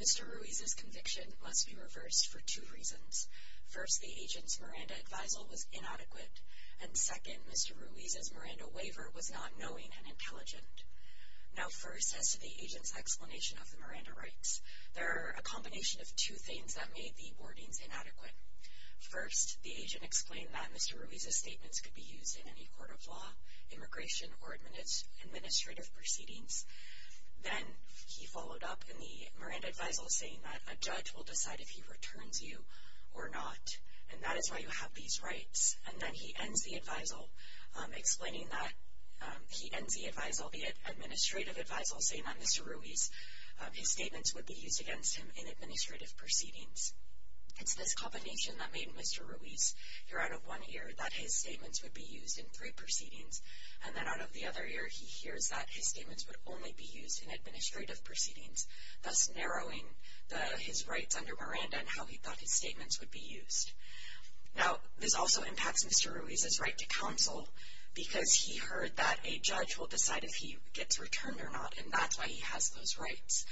Mr. Ruiz's conviction must be reversed for two reasons. First, the agent's Miranda advisal was inadequate. And second, Mr. Ruiz's Miranda waiver was not knowing and intelligent. Now first, as to the agent's explanation of the Miranda rights, there are a combination of two things that made the warnings inadequate. First, the agent explained that Mr. Ruiz's statements could be used in any court of law, immigration, or administrative proceedings. Then he followed up in the Miranda advisal saying that a judge will decide if he returns you or not, and that is why you have these rights. And then he ends the advisal explaining that he ends the advisal, the administrative advisal, saying that Mr. Ruiz's statements would be used against him in administrative proceedings. It's this combination that made Mr. Ruiz hear out of one ear that his statements would be used in three proceedings, and then out of the other ear he hears that his statements would only be used in administrative proceedings, thus narrowing his rights under Miranda and how he thought his statements would be used. Now, this also impacts Mr. Ruiz's right to counsel because he heard that a judge will decide if he gets returned or not, and that's why he has those rights.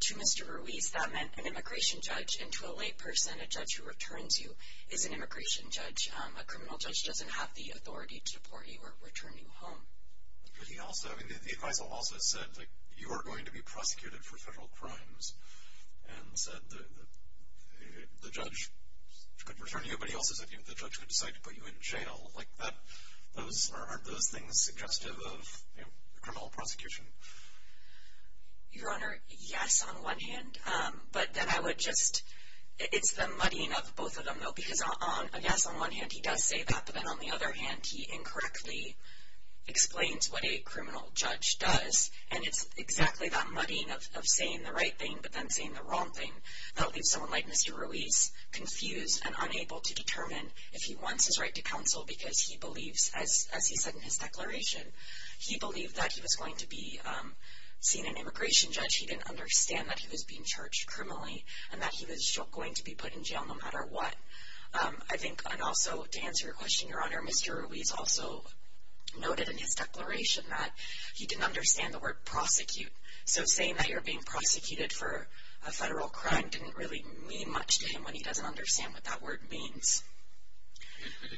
To Mr. Ruiz, that meant an immigration judge, and to a late person, a judge who returns you is an immigration judge. A criminal judge doesn't have the authority to deport you or return you home. But he also, I mean, the advisal also said, like, you are going to be prosecuted for federal crimes and said the judge could return you, but he also said the judge would decide to put you in jail. Like, aren't those things suggestive of criminal prosecution? Your Honor, yes, on one hand, but then I would just, it's the muddying of both of them, though, because, yes, on one hand, he does say that, but then on the other hand, he incorrectly explains what a criminal judge does, and it's exactly that muddying of saying the right thing but then saying the wrong thing that leaves someone like Mr. Ruiz confused and unable to determine if he wants his right to counsel because he believes, as he said in his declaration, he believed that he was going to be seen an immigration judge. He didn't understand that he was being charged criminally and that he was going to be put in jail no matter what. I think, and also to answer your question, Your Honor, Mr. Ruiz also noted in his declaration that he didn't understand the word prosecute. So saying that you're being prosecuted for a federal crime didn't really mean much to him when he doesn't understand what that word means. The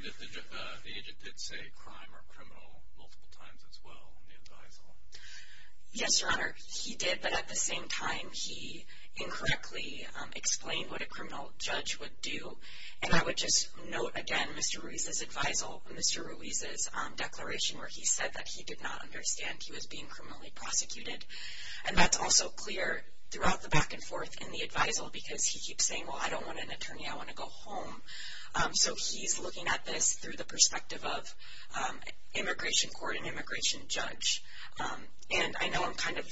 agent did say crime or criminal multiple times as well in the advisal. Yes, Your Honor, he did, but at the same time, he incorrectly explained what a criminal judge would do, and I would just note again Mr. Ruiz's advisal, Mr. Ruiz's declaration, where he said that he did not understand he was being criminally prosecuted. And that's also clear throughout the back and forth in the advisal because he keeps saying, well, I don't want an attorney, I want to go home. So he's looking at this through the perspective of immigration court and immigration judge. And I know I'm kind of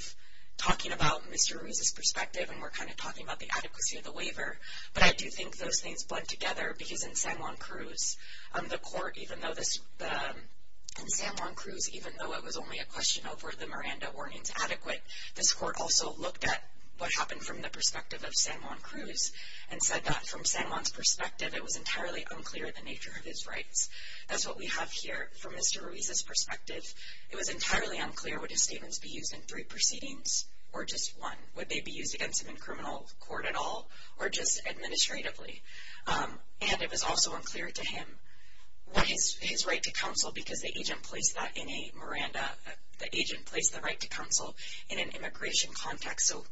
talking about Mr. Ruiz's perspective and we're kind of talking about the adequacy of the waiver, but I do think those things blend together because in San Juan Cruz, the court, even though in San Juan Cruz, even though it was only a question of were the Miranda warnings adequate, this court also looked at what happened from the perspective of San Juan Cruz and said that from San Juan's perspective, it was entirely unclear the nature of his rights. That's what we have here from Mr. Ruiz's perspective. It was entirely unclear would his statements be used in three proceedings or just one. Would they be used against him in criminal court at all or just administratively? And it was also unclear to him what his right to counsel because the agent placed that in a Miranda, the agent placed the right to counsel in an immigration context. So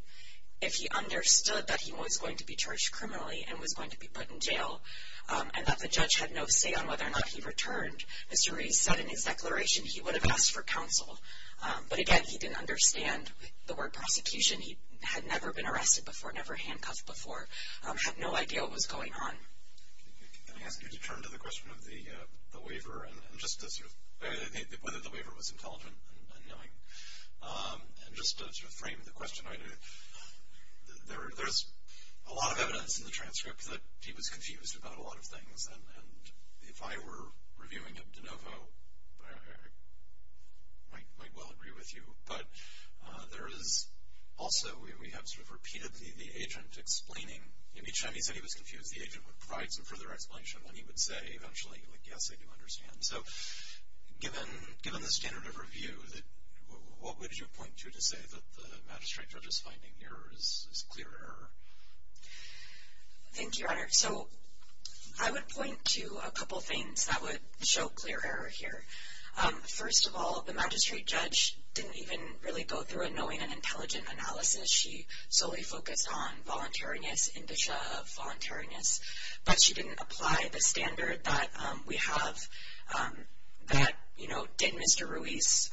if he understood that he was going to be charged criminally and was going to be put in jail and that the judge had no say on whether or not he returned, Mr. Ruiz said in his declaration he would have asked for counsel. But again, he didn't understand the word prosecution. He had never been arrested before, never handcuffed before, had no idea what was going on. Can I ask you to turn to the question of the waiver and just whether the waiver was intelligent and knowing? And just to frame the question, there's a lot of evidence in the transcript that he was confused about a lot of things. And if I were reviewing it de novo, I might well agree with you. But there is also, we have sort of repeated the agent explaining. Each time he said he was confused, the agent would provide some further explanation. Then he would say eventually, like, yes, I do understand. So given the standard of review, what would you point to to say that the magistrate judge's finding here is clear error? Thank you, Your Honor. So I would point to a couple things that would show clear error here. First of all, the magistrate judge didn't even really go through a knowing and intelligent analysis. She solely focused on voluntariness, indicia of voluntariness. But she didn't apply the standard that we have that, you know, did Mr. Ruiz.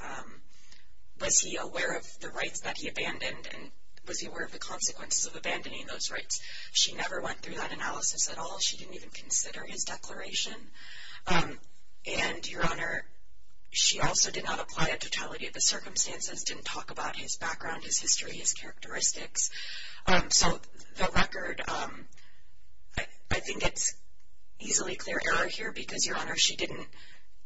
Was he aware of the rights that he abandoned? And was he aware of the consequences of abandoning those rights? She never went through that analysis at all. She didn't even consider his declaration. And, Your Honor, she also did not apply a totality of the circumstances, didn't talk about his background, his history, his characteristics. So the record, I think it's easily clear error here because, Your Honor, she didn't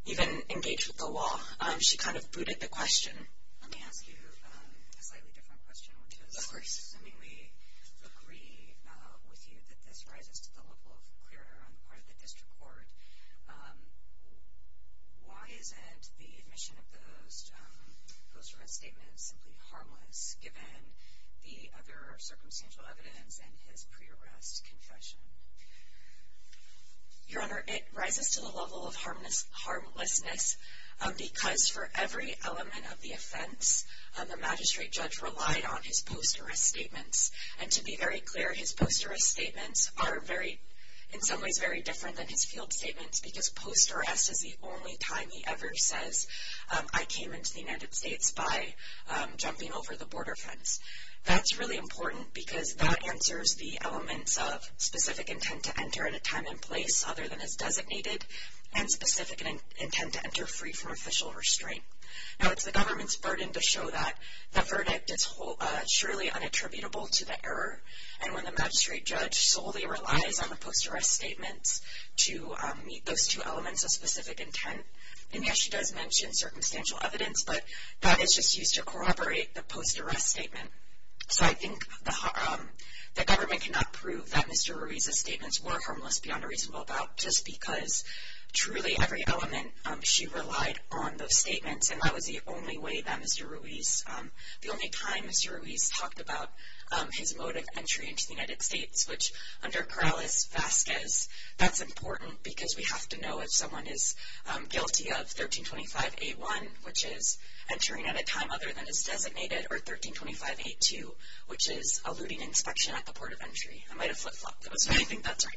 even engage with the law. She kind of booted the question. Let me ask you a slightly different question, which is we agree with you that this rises to the level of clear error on the part of the district court. Why isn't the admission of those post-arrest statements simply harmless, given the other circumstantial evidence and his pre-arrest confession? Your Honor, it rises to the level of harmlessness because for every element of the offense, the magistrate judge relied on his post-arrest statements. And to be very clear, his post-arrest statements are very, in some ways, very different than his field statements because post-arrest is the only time he ever says, I came into the United States by jumping over the border fence. That's really important because that answers the elements of specific intent to enter at a time and place other than as designated and specific intent to enter free from official restraint. Now, it's the government's burden to show that the verdict is surely unattributable to the error. And when the magistrate judge solely relies on the post-arrest statements to meet those two elements of specific intent, and yes, she does mention circumstantial evidence, but that is just used to corroborate the post-arrest statement. So I think the government cannot prove that Mr. Ruiz's statements were harmless beyond a reasonable doubt just because truly every element, she relied on those statements. And that was the only way that Mr. Ruiz, the only time Mr. Ruiz talked about his mode of entry into the United States, which under Corrales-Vasquez, that's important because we have to know if someone is guilty of 1325A1, which is entering at a time other than as designated, or 1325A2, which is eluding inspection at the port of entry. I might have flip-flopped. So I think that's right.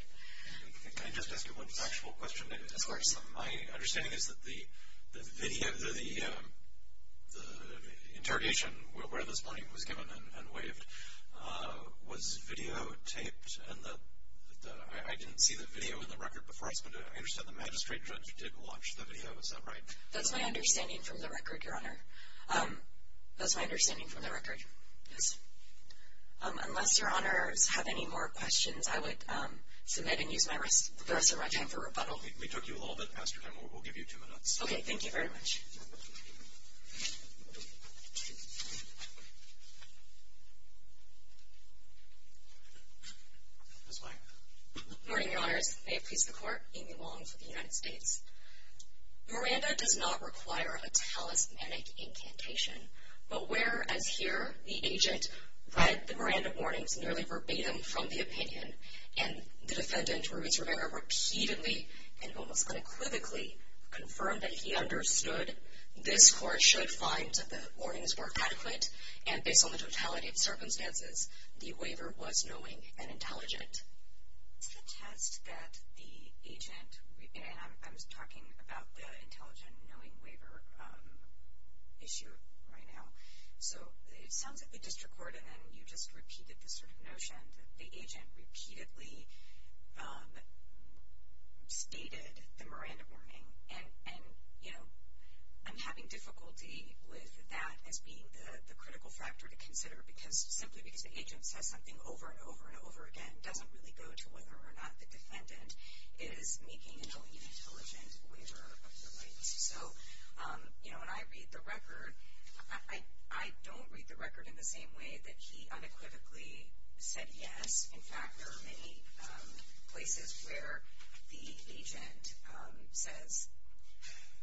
Can I just ask you one factual question? Of course. My understanding is that the video, the interrogation where this money was given and waived was videotaped, and I didn't see the video in the record before this, but I understand the magistrate judge did watch the video. Is that right? That's my understanding from the record, Your Honor. That's my understanding from the record, yes. Unless Your Honors have any more questions, I would submit and use the rest of my time for rebuttal. We took you a little bit past your time. We'll give you two minutes. Okay. Thank you very much. Good morning, Your Honors. May it please the Court. Amy Wong for the United States. Miranda does not require a talismanic incantation, but where, as here, the agent read the Miranda warnings nearly verbatim from the opinion, and the defendant, Ruiz Rivera, repeatedly and almost unequivocally confirmed that he understood, this Court should find the warnings were adequate, and based on the totality of circumstances, the waiver was knowing and intelligent. Is the test that the agent, and I'm talking about the intelligent knowing waiver issue right now, so it sounds like we just recorded and you just repeated the sort of notion that the agent repeatedly stated the Miranda warning, and, you know, I'm having difficulty with that as being the critical factor to consider, simply because the agent says something over and over and over again doesn't really go to whether or not the defendant is making a knowing and intelligent waiver of their rights. So, you know, when I read the record, I don't read the record in the same way that he unequivocally said yes. In fact, there are many places where the agent says,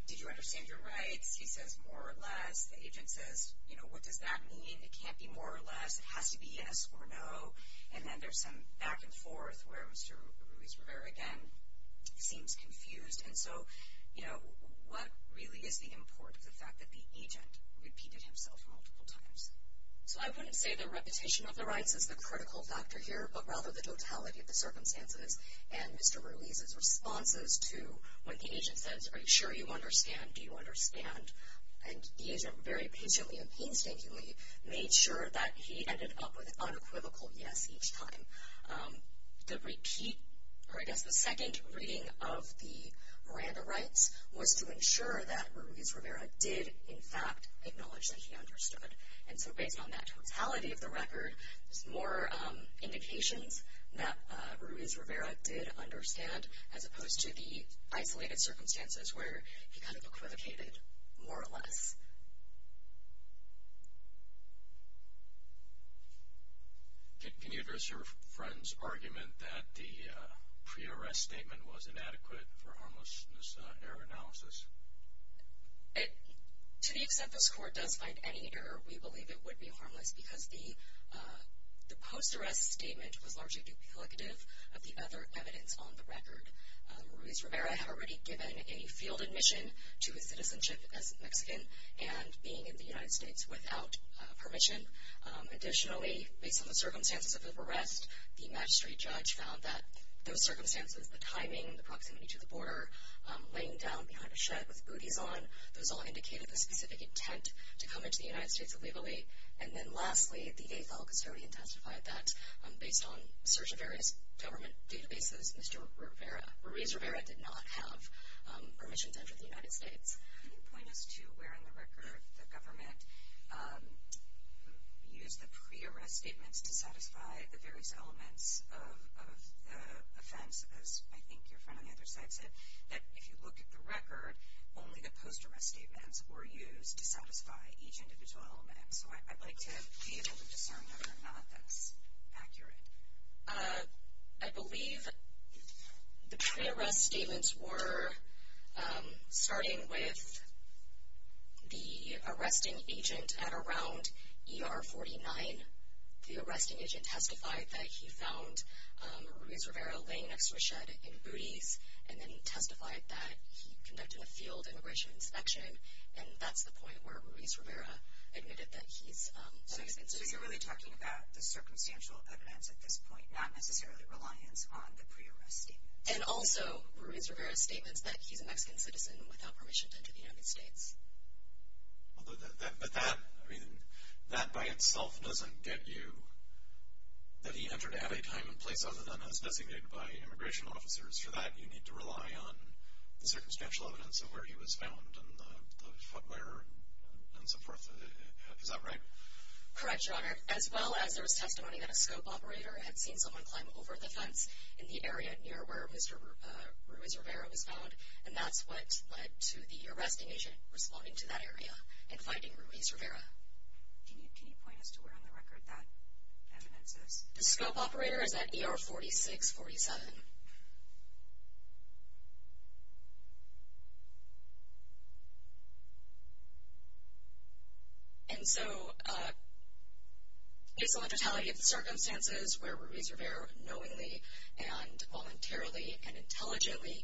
did you understand your rights? He says, more or less. The agent says, you know, what does that mean? It can't be more or less. It has to be yes or no. And then there's some back and forth where Mr. Ruiz-Rivera again seems confused. And so, you know, what really is the import of the fact that the agent repeated himself multiple times? So I wouldn't say the repetition of the rights is the critical factor here, but rather the totality of the circumstances and Mr. Ruiz's responses to when the agent says, are you sure you understand? Do you understand? And the agent very patiently and painstakingly made sure that he ended up with an unequivocal yes each time. The repeat, or I guess the second reading of the Miranda rights, was to ensure that Ruiz-Rivera did, in fact, acknowledge that he understood. And so based on that totality of the record, there's more indications that Ruiz-Rivera did understand as opposed to the isolated circumstances where he kind of equivocated more or less. Can you address your friend's argument that the pre-arrest statement was inadequate for harmlessness error analysis? To the extent this Court does find any error, we believe it would be harmless because the post-arrest statement was largely duplicative of the other evidence on the record. Ruiz-Rivera had already given a field admission to his citizenship as Mexican and being in the United States without permission. Additionally, based on the circumstances of his arrest, the magistrate judge found that those circumstances, the timing, the proximity to the border, laying down behind a shed with booties on, those all indicated the specific intent to come into the United States illegally. And then lastly, the AFAL custodian testified that based on a search of various government databases, Mr. Ruiz-Rivera did not have permission to enter the United States. Can you point us to where in the record the government used the pre-arrest statements to satisfy the various elements of the offense, as I think your friend on the other side said, that if you look at the record, only the post-arrest statements were used to satisfy each individual element. So I'd like to be able to discern whether or not that's accurate. I believe the pre-arrest statements were starting with the arresting agent at around ER 49. The arresting agent testified that he found Ruiz-Rivera laying next to a shed in booties and then testified that he conducted a field immigration inspection, and that's the point where Ruiz-Rivera admitted that he's a Mexican citizen. So you're really talking about the circumstantial evidence at this point, not necessarily reliance on the pre-arrest statements. And also Ruiz-Rivera's statements that he's a Mexican citizen without permission to enter the United States. But that, I mean, that by itself doesn't get you that he entered at a time and place other than as designated by immigration officers. For that, you need to rely on the circumstantial evidence of where he was found and the footwear and so forth. Is that right? Correct, Your Honor. As well as there was testimony that a scope operator had seen someone climb over the fence in the area near where Mr. Ruiz-Rivera was found, and that's what led to the arresting agent responding to that area and finding Ruiz-Rivera. Can you point us to where on the record that evidence is? The scope operator is at ER 4647. And so based on the totality of the circumstances where Ruiz-Rivera knowingly and voluntarily and intelligently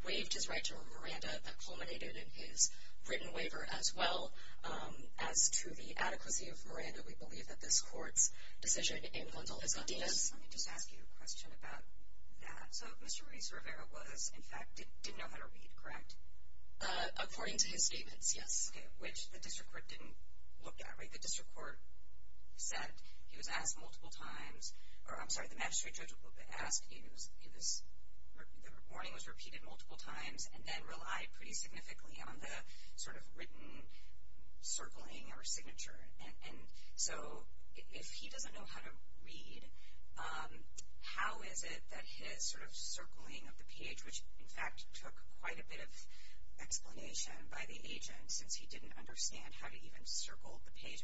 waived his right to Miranda, that culminated in his written waiver as well. As to the adequacy of Miranda, we believe that this court's decision in Lundell has got to do with this. Let me just ask you a question about that. So Mr. Ruiz-Rivera was, in fact, didn't know how to read, correct? According to his statements, yes. Okay, which the district court didn't look at, right? The district court said he was asked multiple times, or I'm sorry, the magistrate judge asked, the warning was repeated multiple times and then relied pretty significantly on the sort of written circling or signature. And so if he doesn't know how to read, how is it that his sort of circling of the page, which in fact took quite a bit of explanation by the agent since he didn't understand how to even circle the page.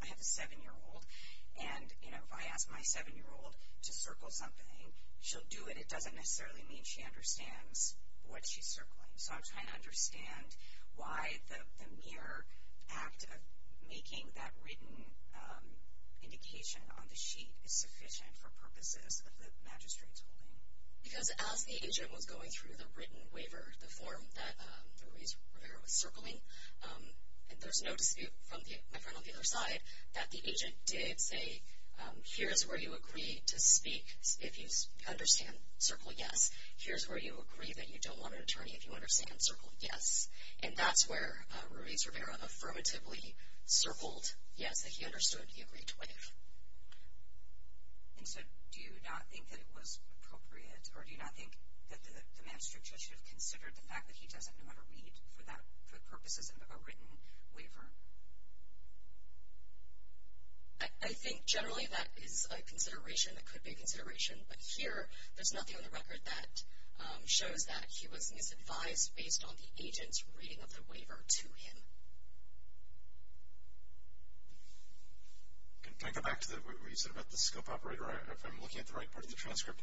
I have a 7-year-old, and, you know, if I ask my 7-year-old to circle something, she'll do it. It doesn't necessarily mean she understands what she's circling. So I'm trying to understand why the mere act of making that written indication on the sheet is sufficient for purposes of the magistrate's holding. Because as the agent was going through the written waiver, the form that Ruiz-Rivera was circling, and there's no dispute from my friend on the other side that the agent did say, here's where you agree to speak if you understand circle, yes. Here's where you agree that you don't want an attorney if you understand circle, yes. And that's where Ruiz-Rivera affirmatively circled yes, that he understood he agreed to waive. And so do you not think that it was appropriate, or do you not think that the magistrate should have considered the fact that he doesn't know how to read for purposes of a written waiver? I think generally that is a consideration that could be a consideration. But here, there's nothing on the record that shows that he was misadvised based on the agent's reading of the waiver to him. Can I go back to what you said about the scope operator? I'm looking at the right part of the transcript.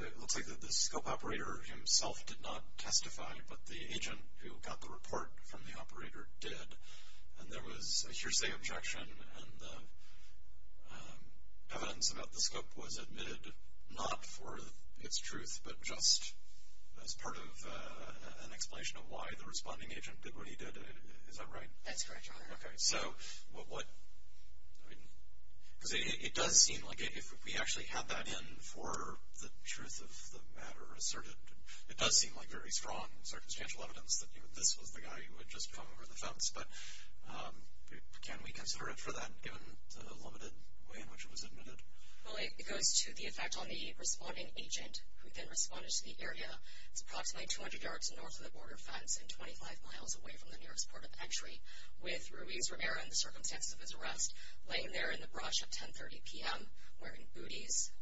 It looks like the scope operator himself did not testify, but the agent who got the report from the operator did. And there was a hearsay objection, and evidence about the scope was admitted not for its truth, but just as part of an explanation of why the responding agent did what he did. Is that right? That's correct, Your Honor. Okay. Because it does seem like if we actually had that in for the truth of the matter asserted, it does seem like very strong circumstantial evidence that, you know, this was the guy who had just come over the fence. But can we consider it for that, given the limited way in which it was admitted? Well, it goes to the effect on the responding agent, who then responded to the area. It's approximately 200 yards north of the border fence and 25 miles away from the nearest port of entry, with Ruiz Rivera and the circumstances of his arrest laying there in the brush at 10.30 p.m. wearing booties.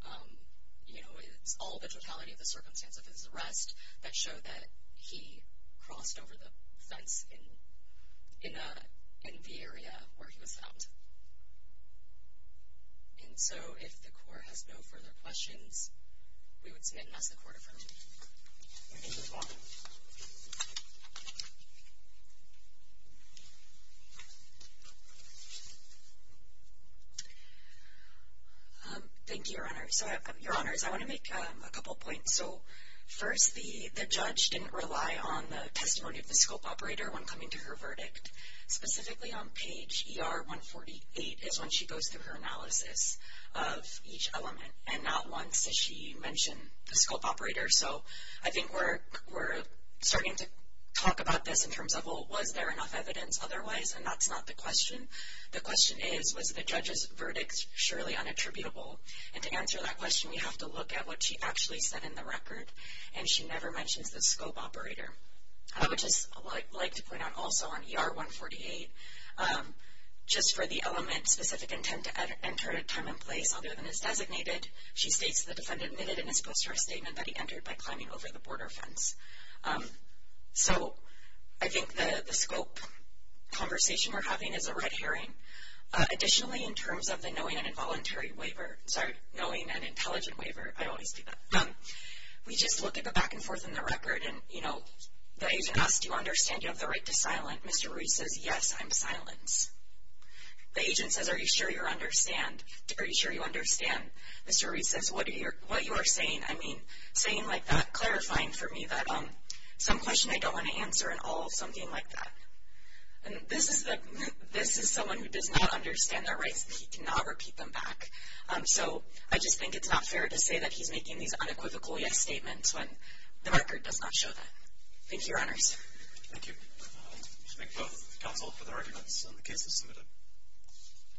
You know, it's all the totality of the circumstances of his arrest that show that he crossed over the fence in the area where he was found. And so, if the Court has no further questions, we would submit an S.A. quarter for me. Thank you. You're welcome. Thank you, Your Honor. So, Your Honors, I want to make a couple points. So, first, the judge didn't rely on the testimony of the scope operator when coming to her verdict. Specifically on page ER 148 is when she goes through her analysis of each element, and not once does she mention the scope operator. So, I think we're starting to talk about this in terms of, well, was there enough evidence otherwise? And that's not the question. The question is, was the judge's verdict surely unattributable? And to answer that question, we have to look at what she actually said in the record, and she never mentions the scope operator. I would just like to point out also on ER 148, just for the element specific intent to enter time and place other than it's designated, she states the defendant admitted in his post-trial statement that he entered by climbing over the border fence. So, I think the scope conversation we're having is a red herring. Additionally, in terms of the knowing and involuntary waiver, sorry, knowing and intelligent waiver, I always do that. We just look at the back and forth in the record, and, you know, the agent asks, do you understand you have the right to silence? Mr. Ruiz says, yes, I'm silence. The agent says, are you sure you understand? Are you sure you understand? Mr. Ruiz says, what you are saying, I mean, saying like that, clarifying for me that some question I don't want to answer and all, something like that. And this is someone who does not understand their rights. He cannot repeat them back. So, I just think it's not fair to say that he's making these unequivocal yes statements when the record does not show that. Thank you, Your Honors. Thank you. Thank both counsel for the arguments and the cases submitted.